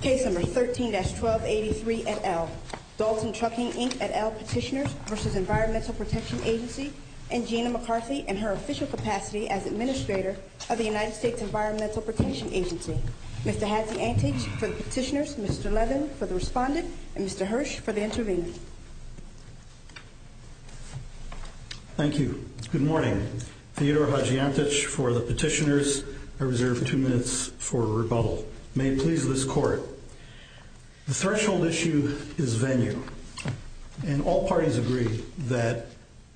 13-1283, Dalton Trucking, Inc. v. Environmental Protection Agency Gina McCarthy and her official capacity as Administrator of the United States Environmental Protection Agency Mr. Hatziantich for the Petitioners, Mr. Levin for the Respondent, and Mr. Hirsch for the Intervener Thank you. Good morning. Theodore Hatziantich for the Petitioners. I reserve two minutes for rebuttal. May it please this Court. The threshold issue is venue. And all parties agree that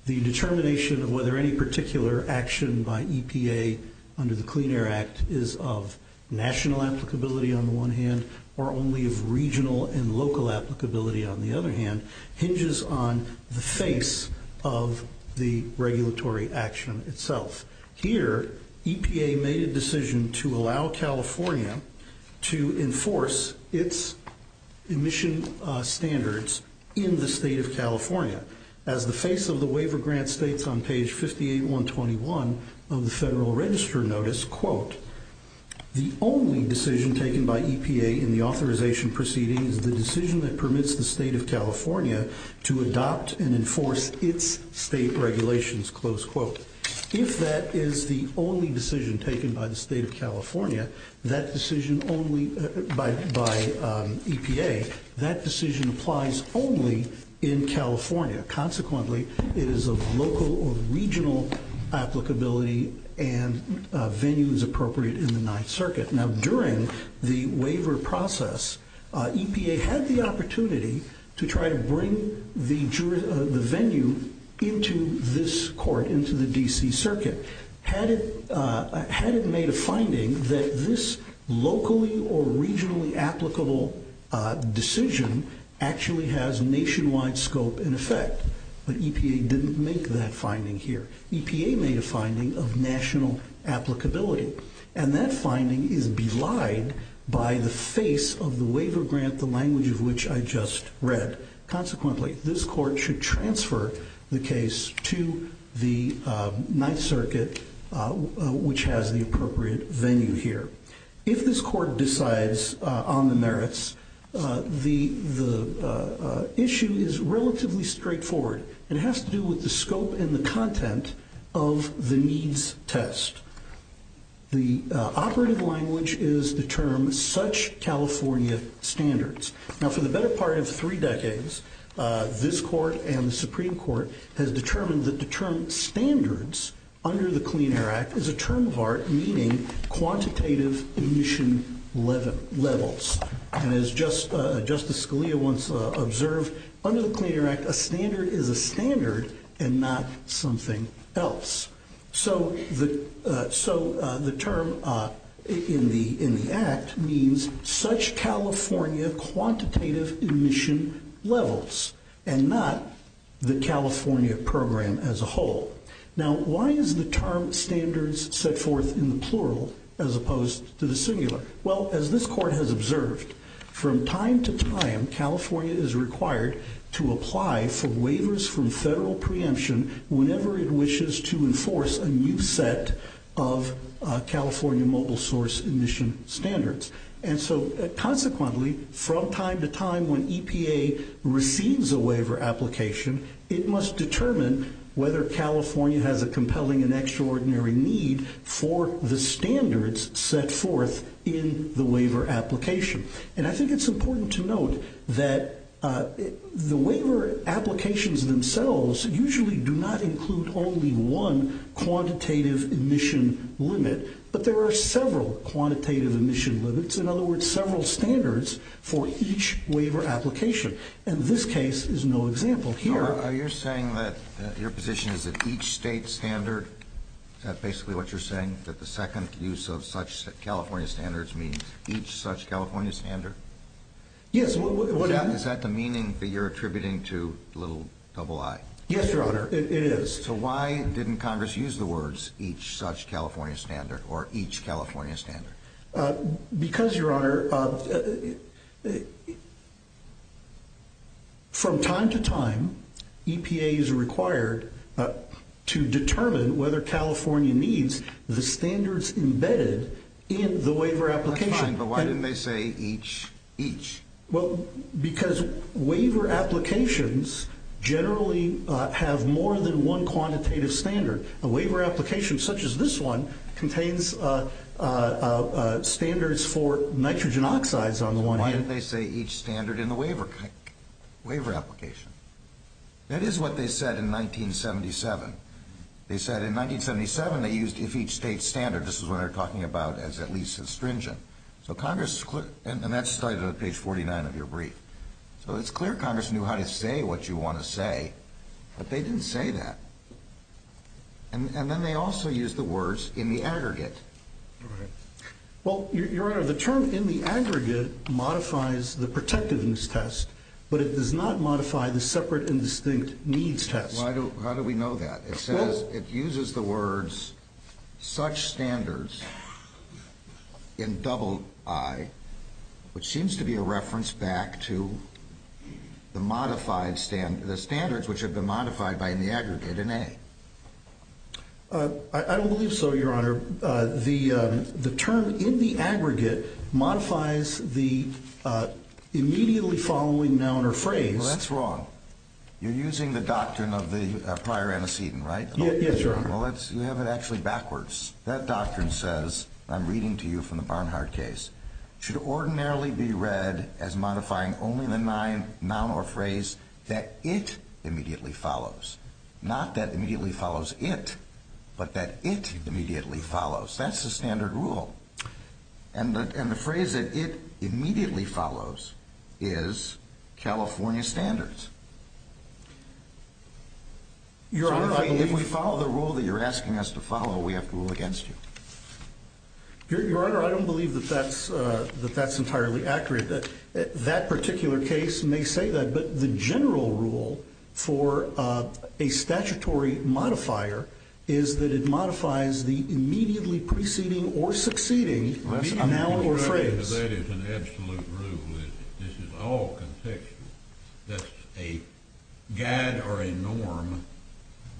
the determination of whether any particular action by EPA under the Clean Air Act is of national applicability on the one hand or only of regional and local applicability on the other hand hinges on the face of the regulatory action itself. Here, EPA made a decision to allow California to enforce its emission standards in the state of California. As the face of the waiver grant states on page 58-121 of the Federal Register Notice, the only decision taken by EPA in the authorization proceeding is the decision that permits the state of California to adopt and enforce its state regulations. If that is the only decision taken by the state of California, that decision only by EPA, that decision applies only in California. Consequently, it is of local or regional applicability and venue is appropriate in the Ninth Circuit. Now, during the waiver process, EPA had the opportunity to try to bring the venue into this court, into the D.C. Circuit. Had it made a finding that this locally or regionally applicable decision actually has nationwide scope and effect. But EPA didn't make that finding here. EPA made a finding of national applicability. And that finding is belied by the face of the waiver grant, the language of which I just read. Consequently, this court should transfer the case to the Ninth Circuit, which has the appropriate venue here. If this court decides on the merits, the issue is relatively straightforward. It has to do with the scope and the content of the needs test. The operative language is the term such California standards. Now, for the better part of three decades, this court and the Supreme Court has determined that the term standards under the Clean Air Act is a term of art meaning quantitative emission levels. And as Justice Scalia once observed, under the Clean Air Act, a standard is a standard and not something else. So the term in the act means such California quantitative emission levels and not the California program as a whole. Now, why is the term standards set forth in the plural as opposed to the singular? Well, as this court has observed, from time to time, California is required to apply for waivers from federal preemption whenever it wishes to enforce a new set of California mobile source emission standards. And so, consequently, from time to time when EPA receives a waiver application, it must determine whether California has a compelling and extraordinary need for the standards set forth in the waiver application. And I think it's important to note that the waiver applications themselves usually do not include only one quantitative emission limit, but there are several quantitative emission limits. In other words, several standards for each waiver application. And this case is no example here. Are you saying that your position is that each state standard, is that basically what you're saying? That the second use of such California standards means each such California standard? Yes. Is that the meaning that you're attributing to the little double I? Yes, Your Honor, it is. So why didn't Congress use the words each such California standard or each California standard? Because, Your Honor, from time to time, EPA is required to determine whether California needs the standards embedded in the waiver application. That's fine, but why didn't they say each each? Well, because waiver applications generally have more than one quantitative standard. A waiver application such as this one contains standards for nitrogen oxides on the one hand. Why didn't they say each standard in the waiver application? That is what they said in 1977. They said in 1977 they used if each state standard. This is what they're talking about as at least astringent. And that's cited on page 49 of your brief. So it's clear Congress knew how to say what you want to say, but they didn't say that. And then they also used the words in the aggregate. Well, Your Honor, the term in the aggregate modifies the protectiveness test, but it does not modify the separate and distinct needs test. How do we know that? It says it uses the words such standards in double I, which seems to be a reference back to the modified standards, the standards which have been modified by the aggregate in A. I don't believe so, Your Honor. The term in the aggregate modifies the immediately following noun or phrase. That's wrong. You're using the doctrine of the prior antecedent, right? Yes, Your Honor. Well, you have it actually backwards. That doctrine says, I'm reading to you from the Barnhart case, should ordinarily be read as modifying only the noun or phrase that it immediately follows. Not that immediately follows it, but that it immediately follows. That's the standard rule. And the phrase that it immediately follows is California standards. If we follow the rule that you're asking us to follow, we have to rule against you. Your Honor, I don't believe that that's entirely accurate. That particular case may say that, but the general rule for a statutory modifier is that it modifies the immediately preceding or succeeding noun or phrase. That is an absolute rule, isn't it? This is all contextual. That's a guide or a norm,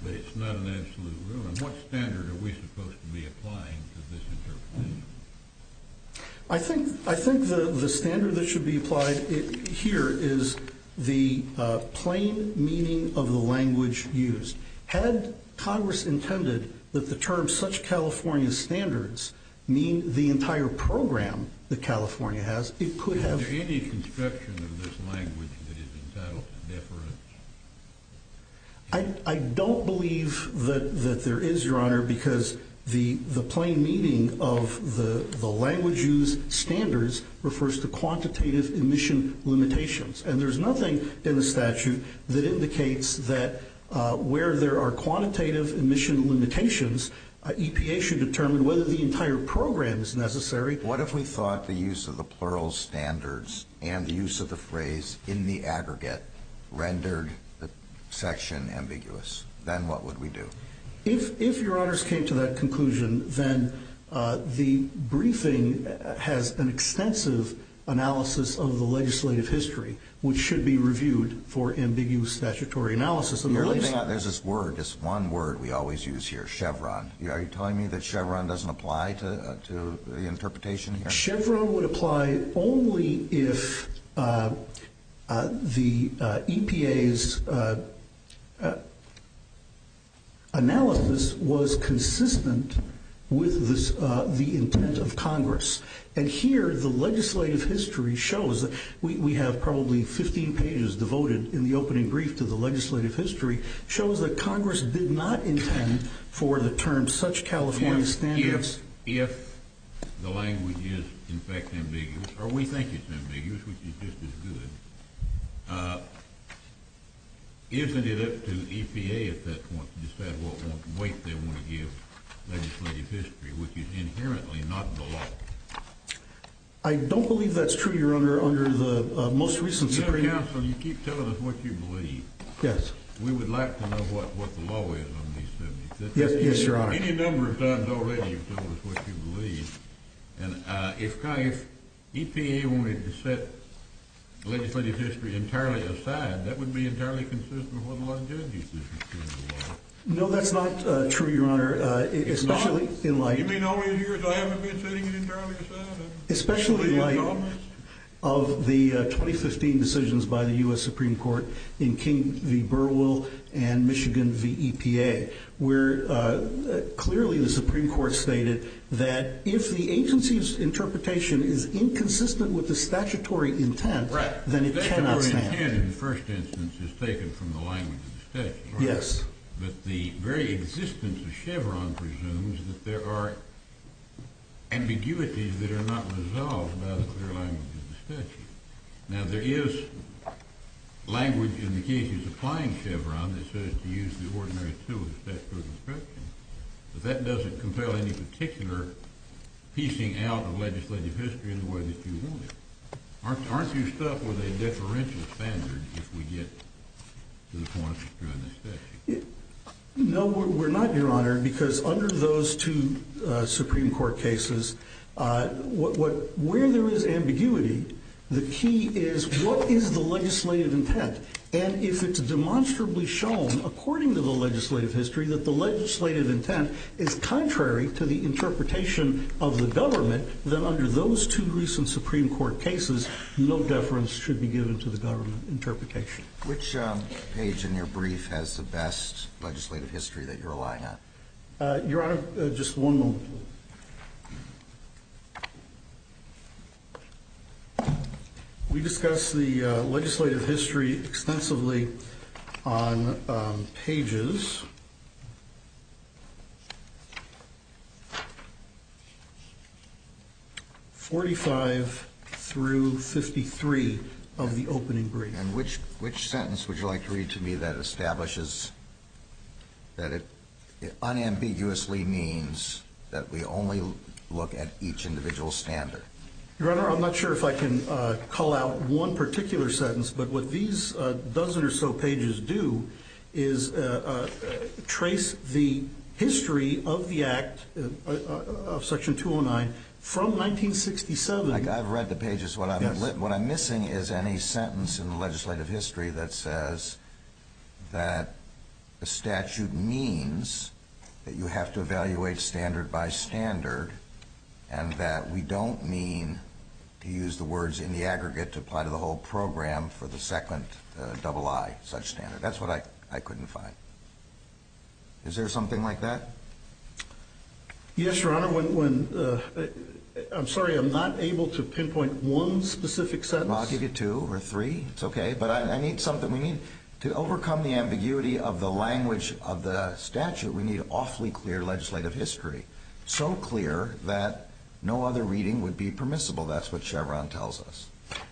but it's not an absolute rule. And what standard are we supposed to be applying to this interpretation? I think the standard that should be applied here is the plain meaning of the language used. Had Congress intended that the term such California standards mean the entire program that California has, it could have… Is there any construction of this language that is entitled to deference? I don't believe that there is, Your Honor, because the plain meaning of the language used standards refers to quantitative emission limitations. And there's nothing in the statute that indicates that where there are quantitative emission limitations, EPA should determine whether the entire program is necessary. What if we thought the use of the plural standards and the use of the phrase in the aggregate rendered the section ambiguous? Then what would we do? If Your Honors came to that conclusion, then the briefing has an extensive analysis of the legislative history, which should be reviewed for ambiguous statutory analysis. There's this word, this one word we always use here, Chevron. Are you telling me that Chevron doesn't apply to the interpretation here? Chevron would apply only if the EPA's analysis was consistent with the intent of Congress. And here, the legislative history shows, we have probably 15 pages devoted in the opening brief to the legislative history, shows that Congress did not intend for the term such California standards… Or we think it's ambiguous, which is just as good. Isn't it up to EPA at that point to decide what weight they want to give legislative history, which is inherently not the law? I don't believe that's true, Your Honor, under the most recent Supreme… You know, counsel, you keep telling us what you believe. Yes. We would like to know what the law is on these things. Yes, Your Honor. Any number of times already you've told us what you believe. And if EPA wanted to set legislative history entirely aside, that would be entirely consistent with what the legislative history says. No, that's not true, Your Honor, especially in light… You mean all these years I haven't been setting it entirely aside? Especially in light of the 2015 decisions by the U.S. Supreme Court in King v. Burwell and Michigan v. EPA, where clearly the Supreme Court stated that if the agency's interpretation is inconsistent with the statutory intent… Right. …then it cannot stand. Statutory intent in the first instance is taken from the language of the statute, right? Yes. But the very existence of Chevron presumes that there are ambiguities that are not resolved by the clear language of the statute. Now, there is language in the cases applying Chevron that says to use the ordinary tool of the statutory construction, but that doesn't compel any particular piecing out of legislative history in the way that you want it. Aren't you stuck with a differential standard if we get to the point of drawing a statute? No, we're not, Your Honor, because under those two Supreme Court cases, where there is ambiguity, the key is what is the legislative intent? And if it's demonstrably shown, according to the legislative history, that the legislative intent is contrary to the interpretation of the government, then under those two recent Supreme Court cases, no deference should be given to the government interpretation. Which page in your brief has the best legislative history that you're relying on? Your Honor, just one moment, please. Okay. We discuss the legislative history extensively on pages 45 through 53 of the opening brief. And which sentence would you like to read to me that establishes that it unambiguously means that we only look at each individual standard? Your Honor, I'm not sure if I can call out one particular sentence, but what these dozen or so pages do is trace the history of the Act, of Section 209, from 1967. I've read the pages. What I'm missing is any sentence in the legislative history that says that a statute means that you have to evaluate standard by standard and that we don't mean to use the words in the aggregate to apply to the whole program for the second double I, such standard. That's what I couldn't find. Is there something like that? Yes, Your Honor. I'm sorry, I'm not able to pinpoint one specific sentence. I'll give you two or three. It's okay. But I need something. We need to overcome the ambiguity of the language of the statute. We need awfully clear legislative history, so clear that no other reading would be permissible. That's what Chevron tells us.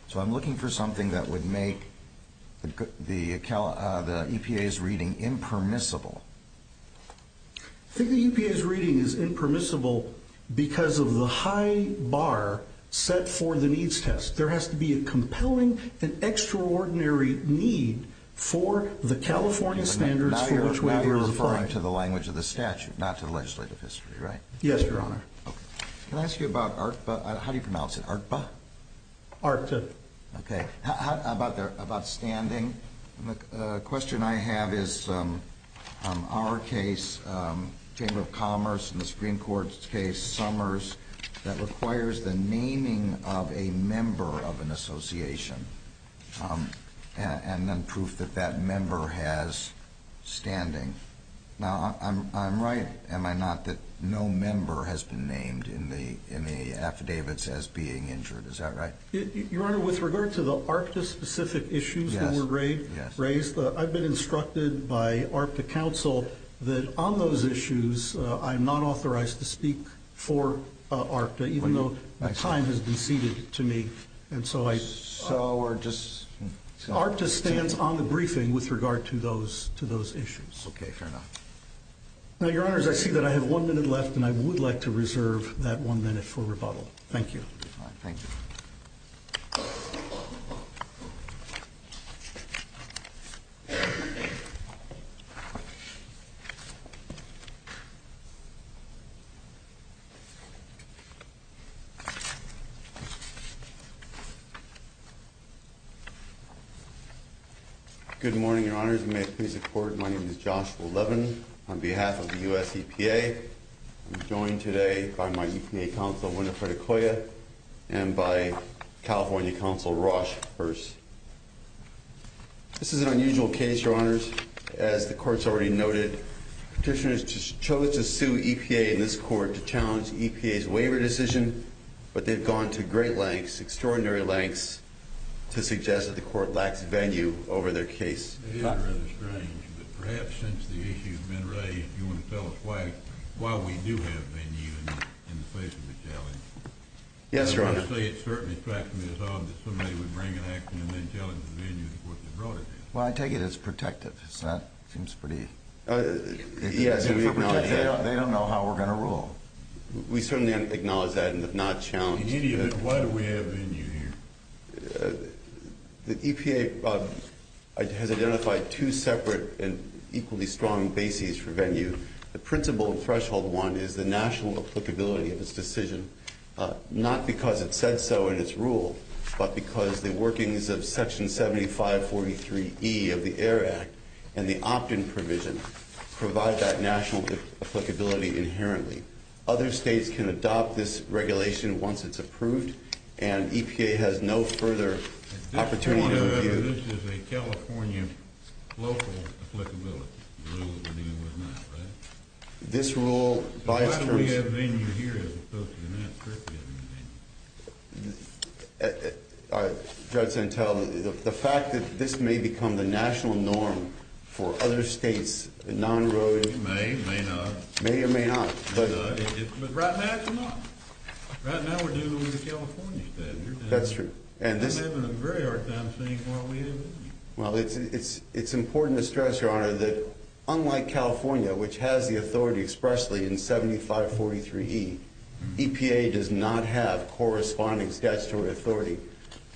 So I'm looking for something that would make the EPA's reading impermissible. I think the EPA's reading is impermissible because of the high bar set for the needs test. There has to be a compelling and extraordinary need for the California standards for which we are referring. Now you're referring to the language of the statute, not to the legislative history, right? Yes, Your Honor. Okay. Can I ask you about ARPBA? How do you pronounce it, ARPBA? ARPTA. Okay. About standing, the question I have is our case, Chamber of Commerce, and the Supreme Court's case, Summers, that requires the naming of a member of an association and then proof that that member has standing. Now I'm right, am I not, that no member has been named in the affidavits as being injured. Is that right? Your Honor, with regard to the ARPTA-specific issues that were raised, I've been instructed by ARPTA counsel that on those issues I'm not authorized to speak for ARPTA, even though the time has been ceded to me. So we're just... ARPTA stands on the briefing with regard to those issues. Okay, fair enough. Now, Your Honors, I see that I have one minute left, and I would like to reserve that one minute for rebuttal. Thank you. All right, thank you. Good morning, Your Honors. You may please record. My name is Joshua Levin on behalf of the U.S. EPA. I'm joined today by my EPA counsel, Winifred Okoye, and by California counsel, Rosh Hearst. This is an unusual case, Your Honors. As the Court's already noted, petitioners chose to sue EPA in this court to challenge EPA's waiver decision, but they've gone to great lengths, extraordinary lengths, to suggest that the Court lacks venue over their case. It is rather strange, but perhaps since the issue has been raised, do you want to tell us why we do have venue in the face of the challenge? Yes, Your Honor. I'm going to say it certainly strikes me as odd that somebody would bring an action and then challenge the venue before they brought it in. Well, I take it as protective. That seems pretty... Yes, we acknowledge that. They don't know how we're going to rule. We certainly acknowledge that and have not challenged it. In any event, why do we have venue here? The EPA has identified two separate and equally strong bases for venue. The principle and threshold one is the national applicability of its decision, not because it said so in its rule, but because the workings of Section 7543E of the AIR Act and the opt-in provision provide that national applicability inherently. Other states can adopt this regulation once it's approved, and EPA has no further opportunity to review it. It does turn out that this is a California local applicability, the rule that we're dealing with now, right? This rule, by its terms... So why do we have venue here as opposed to United States? Judge Santel, the fact that this may become the national norm for other states, non-rural... It may, it may not. It may or may not, but... It does. But right now it's not. Right now we're dealing with a California statute. That's true. And I'm having a very hard time seeing why we have it. Well, it's important to stress, Your Honor, that unlike California, which has the authority expressly in 7543E, EPA does not have corresponding statutory authority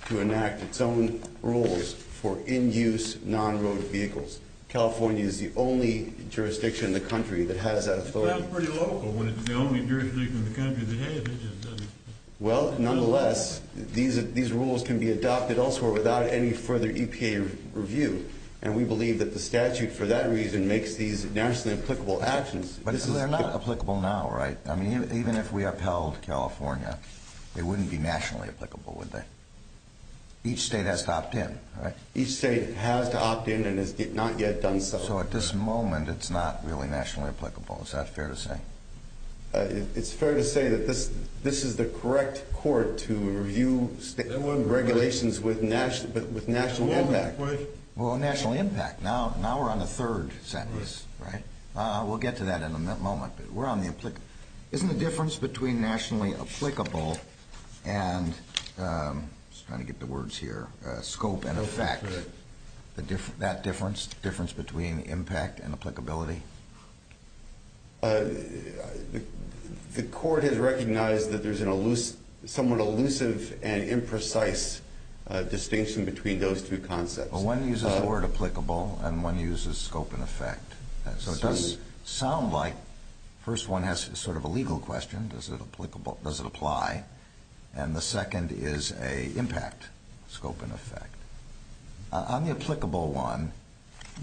to enact its own rules for in-use non-road vehicles. California is the only jurisdiction in the country that has that authority. Well, that's pretty local when it's the only jurisdiction in the country that has it. Well, nonetheless, these rules can be adopted elsewhere without any further EPA review, and we believe that the statute, for that reason, makes these nationally applicable actions. But they're not applicable now, right? I mean, even if we upheld California, they wouldn't be nationally applicable, would they? Each state has to opt in, right? Each state has to opt in and has not yet done so. So at this moment, it's not really nationally applicable. Is that fair to say? It's fair to say that this is the correct court to review regulations with national impact. Well, national impact. Now we're on the third sentence, right? We'll get to that in a moment, but we're on the applicable. Isn't the difference between nationally applicable and, I'm just trying to get the words here, scope and effect, that difference between impact and applicability? The court has recognized that there's a somewhat elusive and imprecise distinction between those two concepts. Well, one uses the word applicable and one uses scope and effect. So it does sound like the first one has sort of a legal question, does it apply, and the second is an impact, scope and effect. On the applicable one,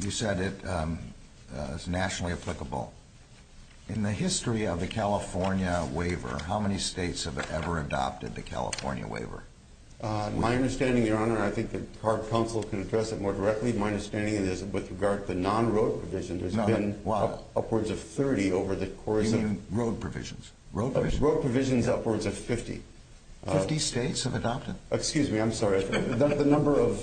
you said it's nationally applicable. In the history of the California waiver, how many states have ever adopted the California waiver? My understanding, Your Honor, and I think the court counsel can address it more directly, my understanding is with regard to the non-road provision, there's been upwards of 30 over the course of You mean road provisions? Road provisions upwards of 50. 50 states have adopted? Excuse me, I'm sorry, the number of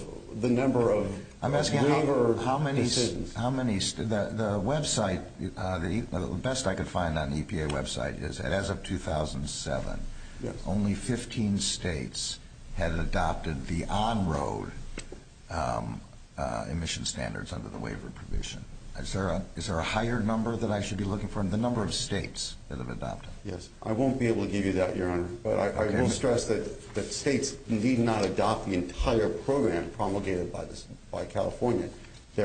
waiver decisions. The website, the best I could find on the EPA website is that as of 2007, only 15 states had adopted the on-road emission standards under the waiver provision. Is there a higher number that I should be looking for in the number of states that have adopted? Yes, I won't be able to give you that, Your Honor. But I will stress that states need not adopt the entire program promulgated by California. Do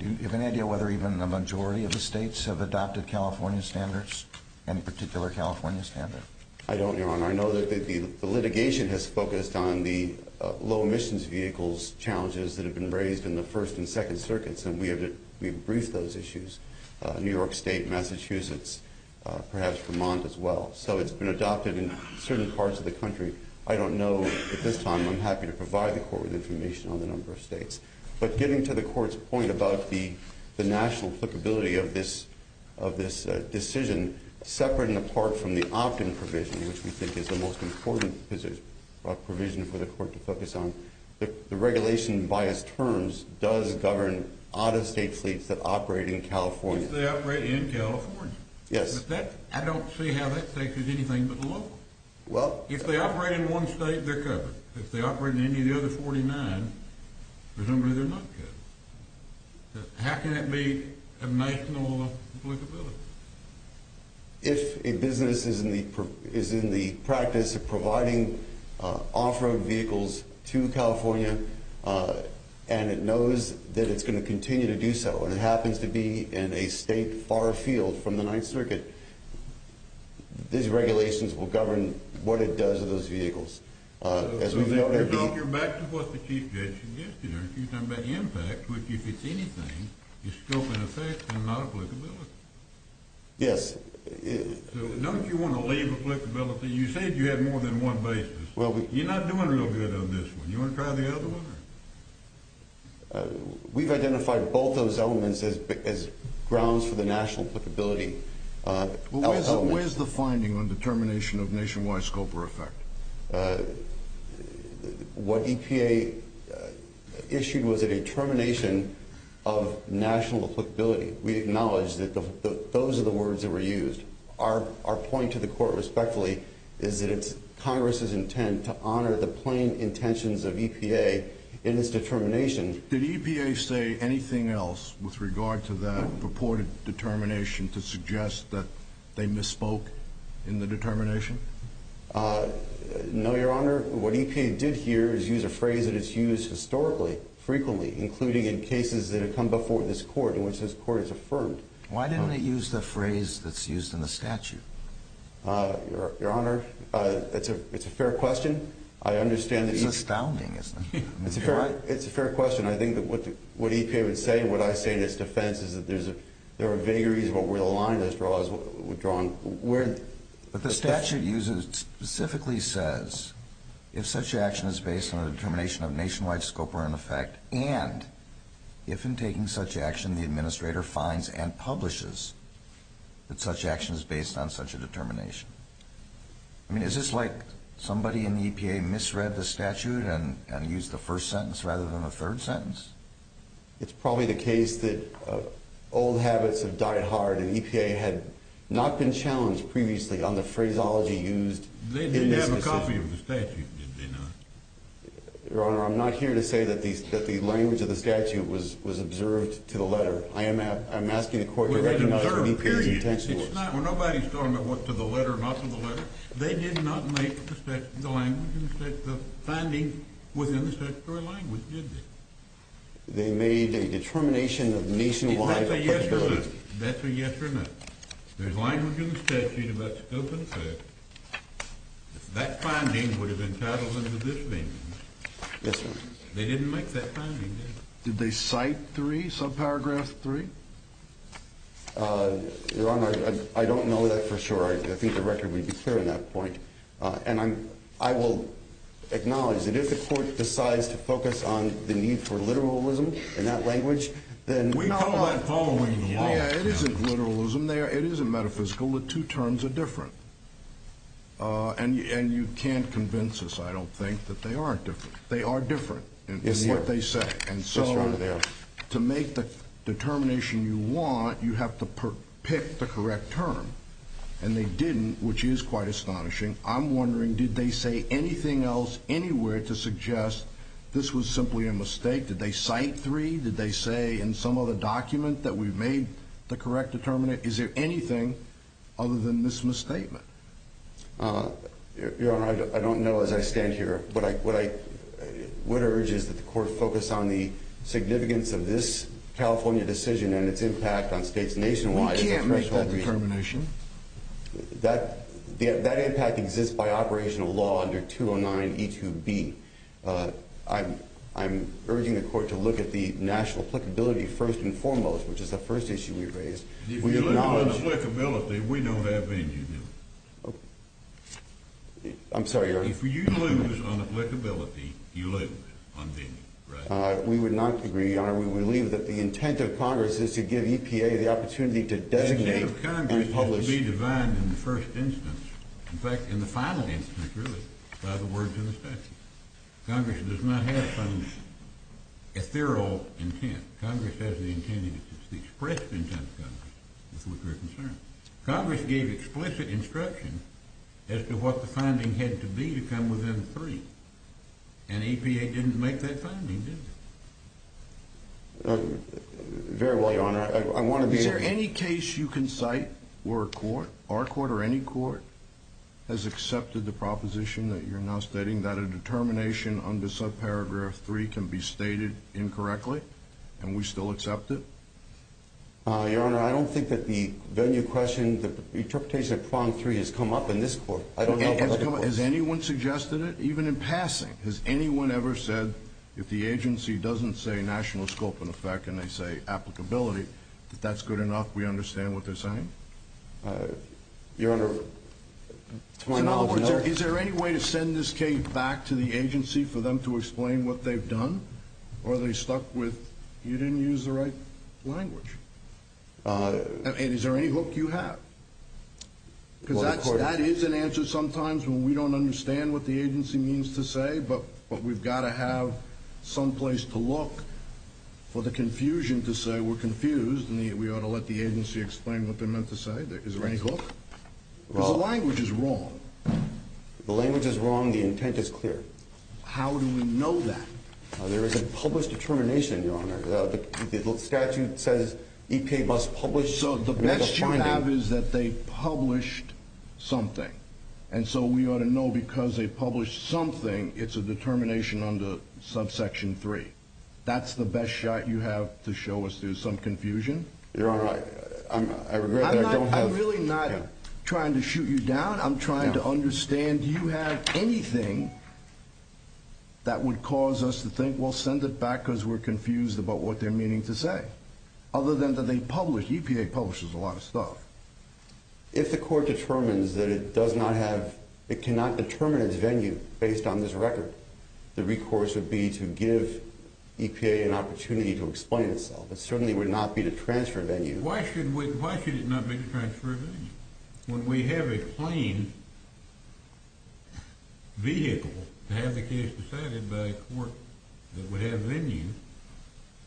you have any idea whether even the majority of the states have adopted California standards, any particular California standard? I don't, Your Honor. I know that the litigation has focused on the low emissions vehicles challenges that have been raised in the First and Second Circuits, and we have briefed those issues, New York State, Massachusetts, perhaps Vermont as well. So it's been adopted in certain parts of the country. I don't know at this time. I'm happy to provide the court with information on the number of states. But getting to the court's point about the national applicability of this decision, separate and apart from the opt-in provision, which we think is the most important provision for the court to focus on, the regulation by its terms does govern out-of-state fleets that operate in California. If they operate in California. Yes. I don't see how that states is anything but the law. If they operate in one state, they're covered. If they operate in any of the other 49, presumably they're not covered. How can that be a national applicability? If a business is in the practice of providing off-road vehicles to California and it knows that it's going to continue to do so and it happens to be in a state far afield from the Ninth Circuit, these regulations will govern what it does to those vehicles. You're talking about what the chief judge suggested. You're talking about impact, which, if it's anything, is scope and effect and not applicability. Yes. Don't you want to leave applicability? You said you had more than one basis. You're not doing real good on this one. Do you want to try the other one? We've identified both those elements as grounds for the national applicability. Where's the finding on determination of nationwide scope or effect? What EPA issued was a determination of national applicability. We acknowledge that those are the words that were used. Our point to the court, respectfully, is that it's Congress's intent to honor the plain intentions of EPA in its determination. Did EPA say anything else with regard to that purported determination to suggest that they misspoke in the determination? No, Your Honor. What EPA did here is use a phrase that is used historically, frequently, including in cases that have come before this court in which this court has affirmed. Why didn't it use the phrase that's used in the statute? Your Honor, it's a fair question. I understand that each— It's astounding, isn't it? It's a fair question. I think that what EPA would say and what I say in its defense is that there are vagaries of what were the line that was drawn. But the statute specifically says if such action is based on a determination of nationwide scope or an effect and if in taking such action the administrator finds and publishes that such action is based on such a determination. I mean, is this like somebody in the EPA misread the statute and used the first sentence rather than the third sentence? It's probably the case that old habits have died hard and EPA had not been challenged previously on the phraseology used in businesses. They didn't have a copy of the statute, did they not? Your Honor, I'm not here to say that the language of the statute was observed to the letter. I am asking the court to recognize what EPA's intent was. Well, nobody's talking about what to the letter or not to the letter. They did not make the language in the statute, the finding within the statutory language, did they? They made a determination of nationwide— That's a yes or no. That's a yes or no. There's language in the statute about scope and effect. That finding would have been titled under this venue. Yes, sir. They didn't make that finding, did they? Did they cite three, subparagraph three? Your Honor, I don't know that for sure. I think the record would be clear on that point. And I will acknowledge that if the court decides to focus on the need for literalism in that language, then— We call that following the law. It isn't literalism. It isn't metaphysical. The two terms are different. And you can't convince us, I don't think, that they aren't different. They are different in what they say. Yes, Your Honor, they are. To make the determination you want, you have to pick the correct term. And they didn't, which is quite astonishing. I'm wondering, did they say anything else anywhere to suggest this was simply a mistake? Did they cite three? Did they say in some other document that we made the correct determination? Is there anything other than this misstatement? Your Honor, I don't know as I stand here. What I would urge is that the court focus on the significance of this California decision and its impact on states nationwide. We can't make that determination. That impact exists by operational law under 209E2B. I'm urging the court to look at the national applicability first and foremost, which is the first issue we raised. If you look at the applicability, we don't have anything. I'm sorry, Your Honor? If you lose on applicability, you lose on vision, right? We would not agree, Your Honor. We believe that the intent of Congress is to give EPA the opportunity to designate and publish. The intent of Congress is to be defined in the first instance, in fact, in the final instance, really, by the words in the statute. Congress does not have a final intent. Congress has the intent, the expressed intent of Congress, with which we're concerned. Congress gave explicit instruction as to what the finding had to be to come within three, and EPA didn't make that finding, did it? Very well, Your Honor. Is there any case you can cite where a court, our court or any court, has accepted the proposition that you're now stating, that a determination under subparagraph three can be stated incorrectly and we still accept it? Your Honor, I don't think that the venue question, the interpretation of prong three has come up in this court. Has anyone suggested it? Even in passing, has anyone ever said, if the agency doesn't say national scope in effect and they say applicability, that that's good enough, we understand what they're saying? Your Honor, to my knowledge, no. Is there any way to send this case back to the agency for them to explain what they've done? Or are they stuck with, you didn't use the right language? And is there any hook you have? Because that is an answer sometimes when we don't understand what the agency means to say, but we've got to have some place to look for the confusion to say we're confused and we ought to let the agency explain what they meant to say. Is there any hook? Because the language is wrong. The language is wrong, the intent is clear. How do we know that? There is a published determination, Your Honor. The statute says EPA must publish a finding. So the best you have is that they published something. And so we ought to know because they published something, it's a determination under subsection three. That's the best shot you have to show us there's some confusion? You're right. I regret that I don't have. I'm really not trying to shoot you down. I'm trying to understand, do you have anything that would cause us to think, well, send it back because we're confused about what they're meaning to say? Other than that they publish, EPA publishes a lot of stuff. If the court determines that it does not have, it cannot determine its venue based on this record, the recourse would be to give EPA an opportunity to explain itself. It certainly would not be to transfer venue. Why should it not be to transfer venue? When we have a plain vehicle to have the case decided by a court that would have venue,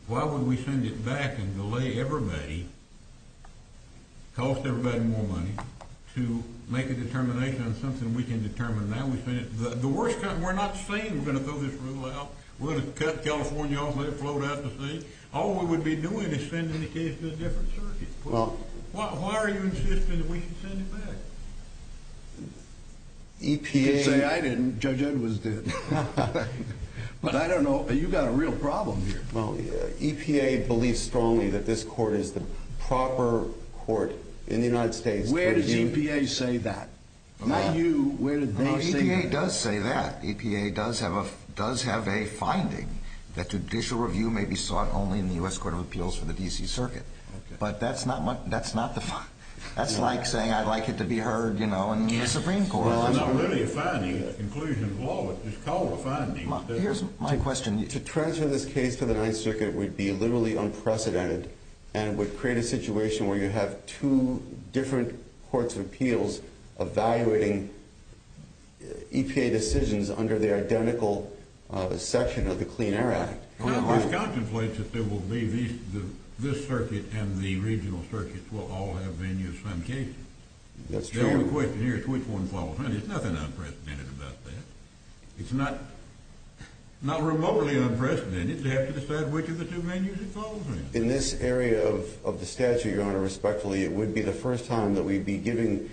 why would we send it back and delay everybody, cost everybody more money, to make a determination on something we can determine now? We're not saying we're going to throw this rule out. We're going to cut California off, let it float out to sea. All we would be doing is sending the case to a different circuit. Why are you insisting that we should send it back? You can say I didn't, Judge Edwards did. But I don't know, you've got a real problem here. EPA believes strongly that this court is the proper court in the United States. Where does EPA say that? EPA does say that. EPA does have a finding that judicial review may be sought only in the U.S. Court of Appeals for the D.C. Circuit. But that's like saying I'd like it to be heard in the Supreme Court. It's not really a finding, a conclusion of law, it's called a finding. Here's my question. To transfer this case to the Ninth Circuit would be literally unprecedented and would create a situation where you have two different courts of appeals evaluating EPA decisions under the identical section of the Clean Air Act. This contemplates that this circuit and the regional circuits will all have menus on cases. The only question here is which one follows which. There's nothing unprecedented about that. It's not remotely unprecedented. They have to decide which of the two menus it follows. In this area of the statute, Your Honor, respectfully, it would be the first time that we'd be giving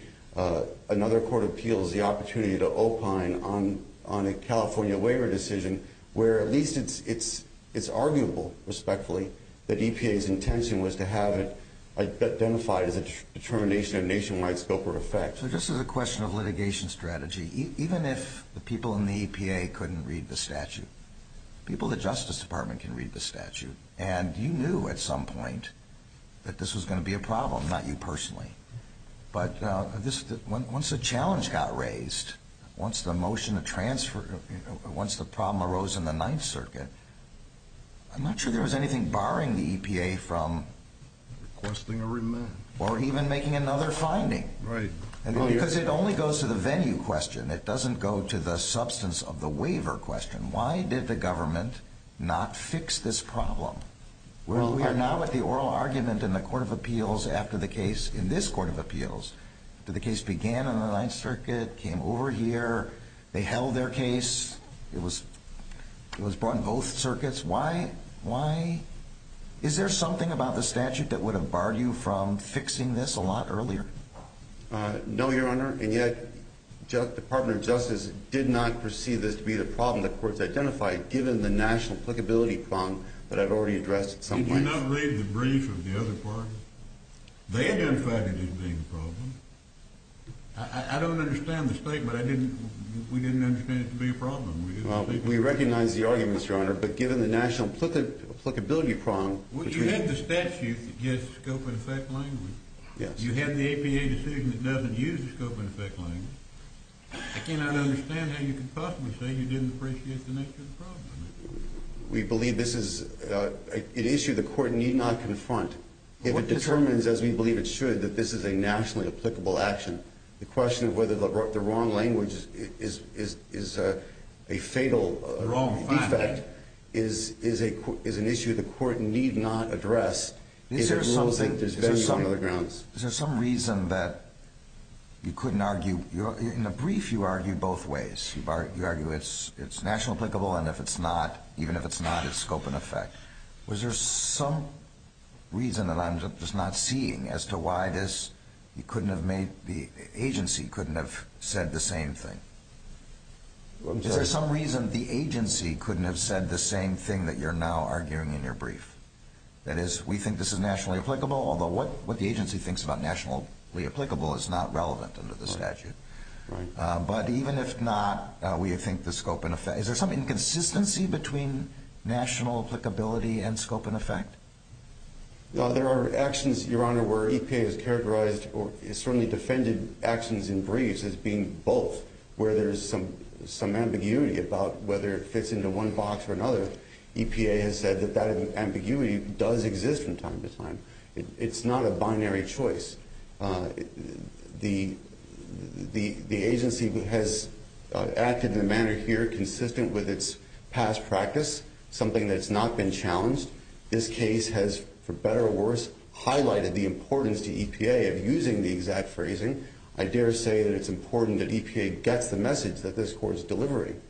another court of appeals the opportunity to opine on a California waiver decision where at least it's arguable, respectfully, that EPA's intention was to have it identified as a determination of nationwide scope or effect. So this is a question of litigation strategy. Even if the people in the EPA couldn't read the statute, people in the Justice Department can read the statute. And you knew at some point that this was going to be a problem, not you personally. But once the challenge got raised, once the motion of transfer, once the problem arose in the Ninth Circuit, I'm not sure there was anything barring the EPA from requesting a remand or even making another finding. Right. Because it only goes to the venue question. It doesn't go to the substance of the waiver question. Why did the government not fix this problem? We are now at the oral argument in the court of appeals after the case in this court of appeals. The case began in the Ninth Circuit, came over here, they held their case. It was brought in both circuits. Why? Is there something about the statute that would have barred you from fixing this a lot earlier? No, Your Honor. And yet the Department of Justice did not perceive this to be the problem the courts identified given the national applicability prong that I've already addressed at some point. Did you not read the brief of the other parties? They identified it as being the problem. I don't understand the state, but we didn't understand it to be a problem. We recognize the argument, Your Honor, but given the national applicability prong between You had the statute that gives scope and effect language. You had the EPA decision that doesn't use the scope and effect language. I cannot understand how you could possibly say you didn't appreciate the nature of the problem. We believe this is an issue the court need not confront. If it determines, as we believe it should, that this is a nationally applicable action, the question of whether the wrong language is a fatal defect is an issue the court need not address. Is there some reason that you couldn't argue? In the brief, you argue both ways. You argue it's nationally applicable, and even if it's not, it's scope and effect. Was there some reason that I'm just not seeing as to why the agency couldn't have said the same thing? Is there some reason the agency couldn't have said the same thing that you're now arguing in your brief? That is, we think this is nationally applicable, although what the agency thinks about nationally applicable is not relevant under the statute. Right. But even if not, we think the scope and effect. Is there some inconsistency between national applicability and scope and effect? There are actions, Your Honor, where EPA has characterized or certainly defended actions in briefs as being both, where there is some ambiguity about whether it fits into one box or another. But EPA has said that that ambiguity does exist from time to time. It's not a binary choice. The agency has acted in a manner here consistent with its past practice, something that's not been challenged. This case has, for better or worse, highlighted the importance to EPA of using the exact phrasing. I dare say that it's important that EPA gets the message that this court is delivering.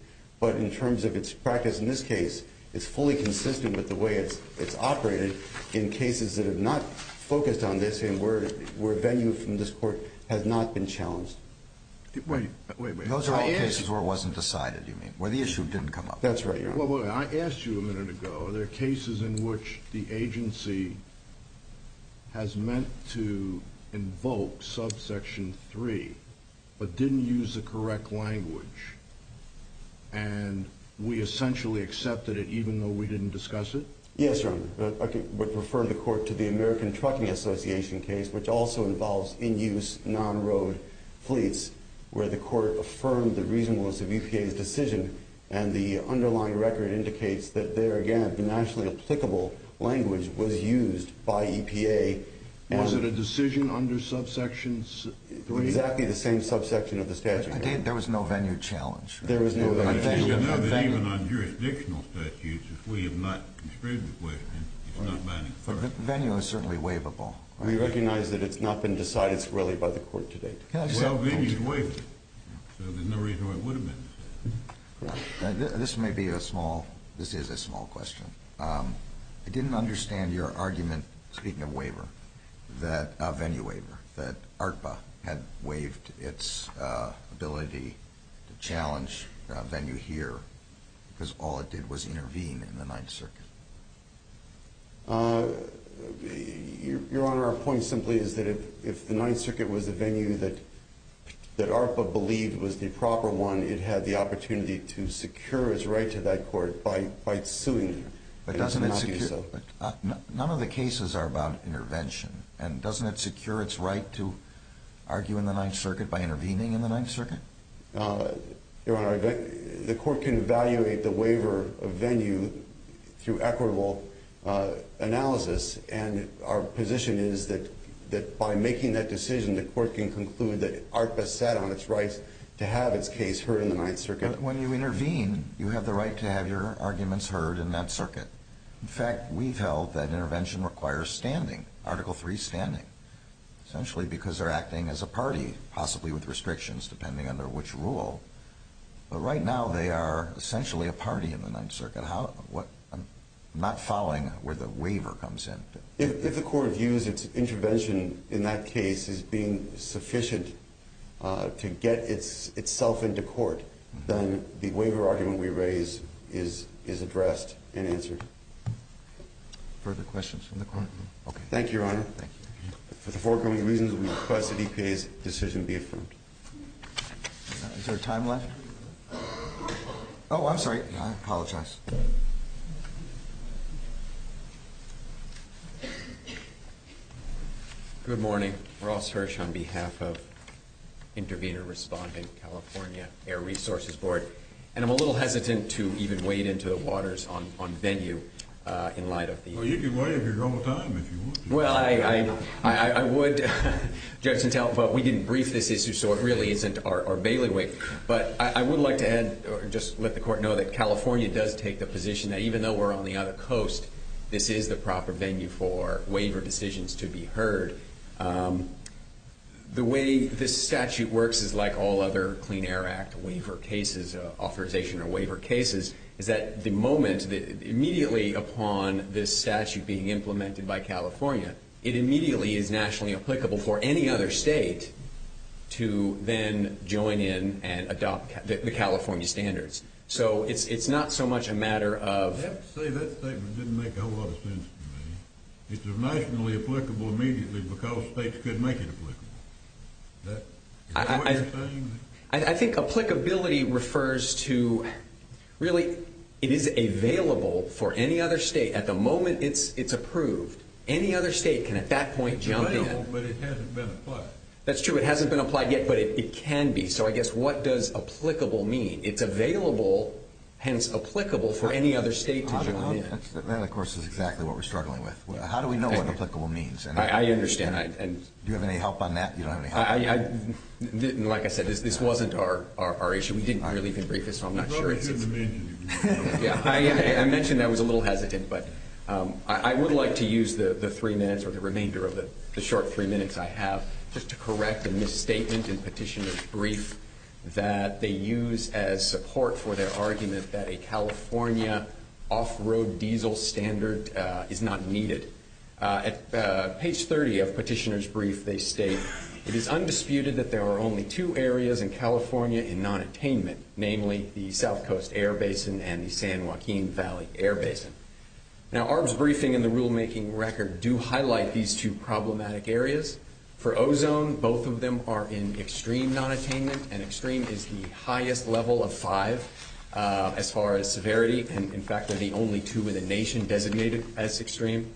But in terms of its practice in this case, it's fully consistent with the way it's operated in cases that have not focused on this and where venue from this court has not been challenged. Wait, wait, wait. Those are all cases where it wasn't decided, you mean, where the issue didn't come up? That's right, Your Honor. Wait, wait, wait. I asked you a minute ago, are there cases in which the agency has meant to invoke subsection 3 but didn't use the correct language and we essentially accepted it even though we didn't discuss it? Yes, Your Honor. But refer the court to the American Trucking Association case, which also involves in-use, non-road fleets, where the court affirmed the reasonableness of EPA's decision and the underlying record indicates that there, again, the nationally applicable language was used by EPA. Was it a decision under subsection 3? Exactly the same subsection of the statute. There was no venue challenge. There was no venue challenge. Even on jurisdictional statutes, if we have not construed the question, it's not binding. Venue is certainly waivable. I recognize that it's not been decided squarely by the court to date. Well, venue is waivable, so there's no reason why it would have been. This may be a small, this is a small question. I didn't understand your argument, speaking of venue waiver, that ARTBA had waived its ability to challenge venue here because all it did was intervene in the Ninth Circuit. Your Honor, our point simply is that if the Ninth Circuit was a venue that ARTBA believed was the proper one, it had the opportunity to secure its right to that court by suing. But doesn't it secure, none of the cases are about intervention, and doesn't it secure its right to argue in the Ninth Circuit by intervening in the Ninth Circuit? Your Honor, the court can evaluate the waiver of venue through equitable analysis, and our position is that by making that decision, the court can conclude that ARTBA sat on its rights to have its case heard in the Ninth Circuit. But when you intervene, you have the right to have your arguments heard in that circuit. In fact, we've held that intervention requires standing, Article III standing, essentially because they're acting as a party, possibly with restrictions depending under which rule. But right now, they are essentially a party in the Ninth Circuit. I'm not following where the waiver comes in. If the court views its intervention in that case as being sufficient to get itself into court, then the waiver argument we raise is addressed and answered. Further questions from the court? Okay. Thank you, Your Honor. For the foregoing reasons, we request that EPA's decision be affirmed. Is there time left? Oh, I'm sorry. I apologize. Good morning. Ross Hirsch on behalf of Intervenor Respondent California Air Resources Board. And I'm a little hesitant to even wade into the waters on venue in light of the— Well, you can wade if you're going to time, if you want to. Well, I would. But we didn't brief this issue, so it really isn't our bailiwick. But I would like to just let the court know that California does take the position that even though we're on the other coast, this is the proper venue for waiver decisions to be heard. The way this statute works is like all other Clean Air Act waiver cases, authorization or waiver cases, is that the moment immediately upon this statute being implemented by California, it immediately is nationally applicable for any other state to then join in and adopt the California standards. So it's not so much a matter of— You have to say that statement didn't make a whole lot of sense to me. It's nationally applicable immediately because states could make it applicable. Is that what you're saying? I think applicability refers to really it is available for any other state. At the moment it's approved, any other state can at that point jump in. It's available, but it hasn't been applied. That's true. It hasn't been applied yet, but it can be. So I guess what does applicable mean? It's available, hence applicable, for any other state to join in. That, of course, is exactly what we're struggling with. How do we know what applicable means? I understand. Do you have any help on that? Like I said, this wasn't our issue. We didn't either leave him brief, so I'm not sure. You probably didn't mention it. I mentioned I was a little hesitant, but I would like to use the three minutes or the remainder of the short three minutes I have just to correct a misstatement in Petitioner's Brief that they use as support for their argument that a California off-road diesel standard is not needed. At page 30 of Petitioner's Brief, they state, it is undisputed that there are only two areas in California in nonattainment, namely the South Coast Air Basin and the San Joaquin Valley Air Basin. Now, ARB's briefing and the rulemaking record do highlight these two problematic areas. For ozone, both of them are in extreme nonattainment, and extreme is the highest level of five as far as severity. In fact, they're the only two in the nation designated as extreme.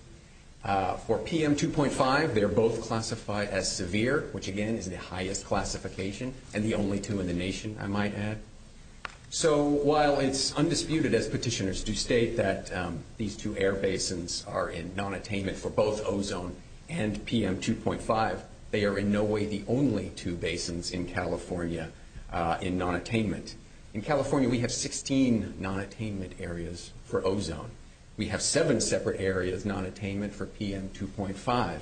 For PM2.5, they're both classified as severe, which, again, is the highest classification and the only two in the nation, I might add. So while it's undisputed, as petitioners do state, that these two air basins are in nonattainment for both ozone and PM2.5, they are in no way the only two basins in California in nonattainment. In California, we have 16 nonattainment areas for ozone. We have seven separate areas nonattainment for PM2.5,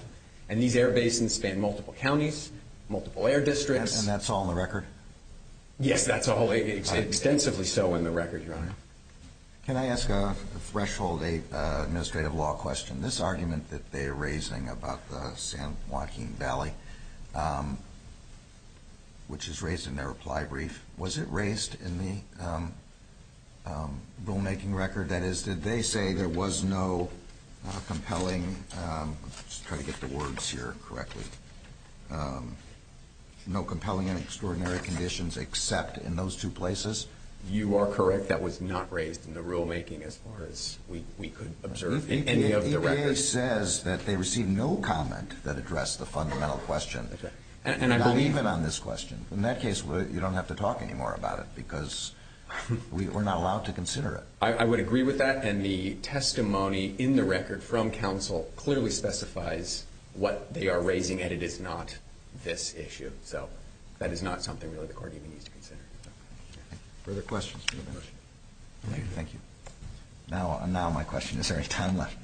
and these air basins span multiple counties, multiple air districts. And that's all in the record? Yes, that's all, extensively so, in the record, Your Honor. Can I ask a threshold 8 administrative law question? This argument that they are raising about the San Joaquin Valley, which is raised in their reply brief, was it raised in the rulemaking record? That is, did they say there was no compelling – let's try to get the words here correctly – no compelling and extraordinary conditions except in those two places? You are correct. That was not raised in the rulemaking as far as we could observe in any of the records. The EPA says that they received no comment that addressed the fundamental question. And I believe it on this question. In that case, you don't have to talk anymore about it because we're not allowed to consider it. I would agree with that, and the testimony in the record from counsel clearly specifies what they are raising, and it is not this issue. So that is not something really the court even needs to consider. Further questions? Thank you. Now my question, is there any time left?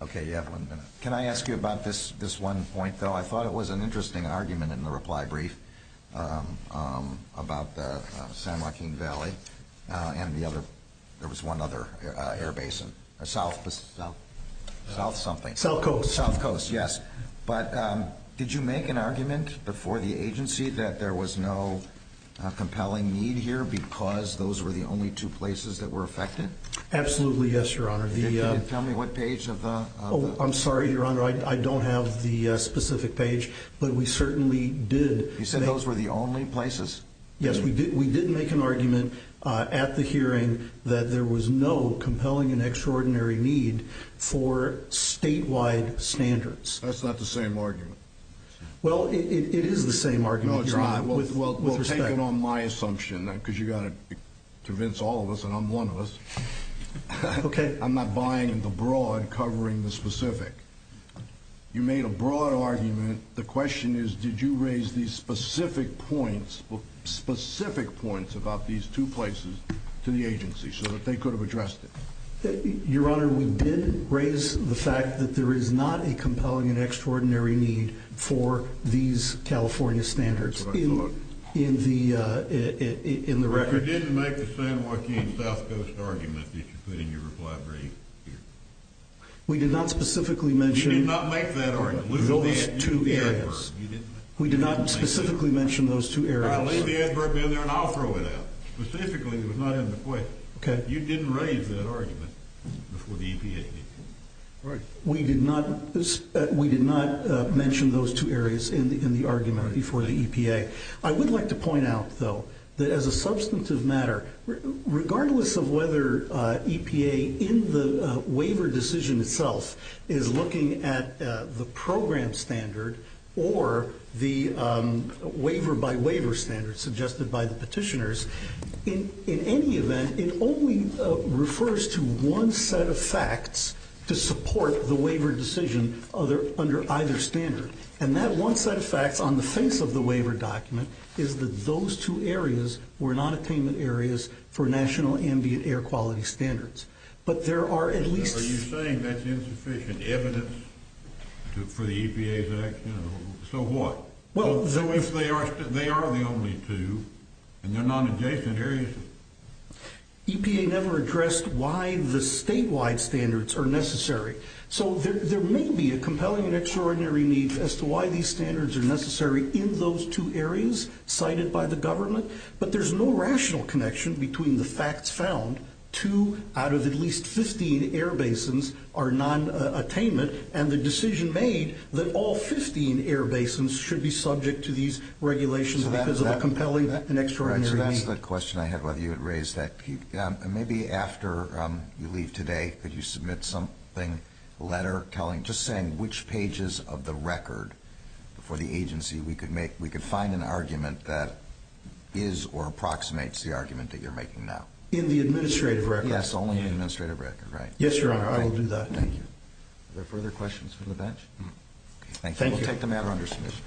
Okay, you have one minute. Can I ask you about this one point, though? I thought it was an interesting argument in the reply brief about the San Joaquin Valley and the other – there was one other air basin. South something. South Coast. South Coast, yes. But did you make an argument before the agency that there was no compelling need here because those were the only two places that were affected? Absolutely, yes, Your Honor. Can you tell me what page of the – I'm sorry, Your Honor, I don't have the specific page, but we certainly did. You said those were the only places? Yes, we did make an argument at the hearing that there was no compelling and extraordinary need for statewide standards. That's not the same argument. Well, it is the same argument. No, it's not. Well, take it on my assumption because you've got to convince all of us, and I'm one of us. Okay. I'm not buying the broad covering the specific. You made a broad argument. The question is did you raise these specific points about these two places to the agency so that they could have addressed it? Your Honor, we did raise the fact that there is not a compelling and extraordinary need for these California standards in the record. You didn't make the San Joaquin South Coast argument that you put in your reply brief. We did not specifically mention those two areas. We did not specifically mention those two areas. All right, leave the adverb in there and I'll throw it out. Specifically, it was not in the question. Okay. You didn't raise that argument before the EPA did. We did not mention those two areas in the argument before the EPA. I would like to point out, though, that as a substantive matter, regardless of whether EPA in the waiver decision itself is looking at the program standard or the waiver-by-waiver standard suggested by the petitioners, in any event, it only refers to one set of facts to support the waiver decision under either standard, and that one set of facts on the face of the waiver document is that those two areas were non-attainment areas for national ambient air quality standards. But there are at least... Are you saying that's insufficient evidence for the EPA's action? So what? So if they are the only two and they're non-adjacent areas... EPA never addressed why the statewide standards are necessary. So there may be a compelling and extraordinary need as to why these standards are necessary in those two areas cited by the government, but there's no rational connection between the facts found, two out of at least 15 air basins are non-attainment, and the decision made that all 15 air basins should be subject to these regulations because of a compelling and extraordinary need. So that's the question I had, whether you had raised that. And maybe after you leave today, could you submit something, a letter, just saying which pages of the record for the agency we could find an argument that is or approximates the argument that you're making now? In the administrative record? Yes, only in the administrative record, right. Yes, Your Honor, I will do that. Thank you. Are there further questions from the bench? Thank you. We'll take the matter under submission.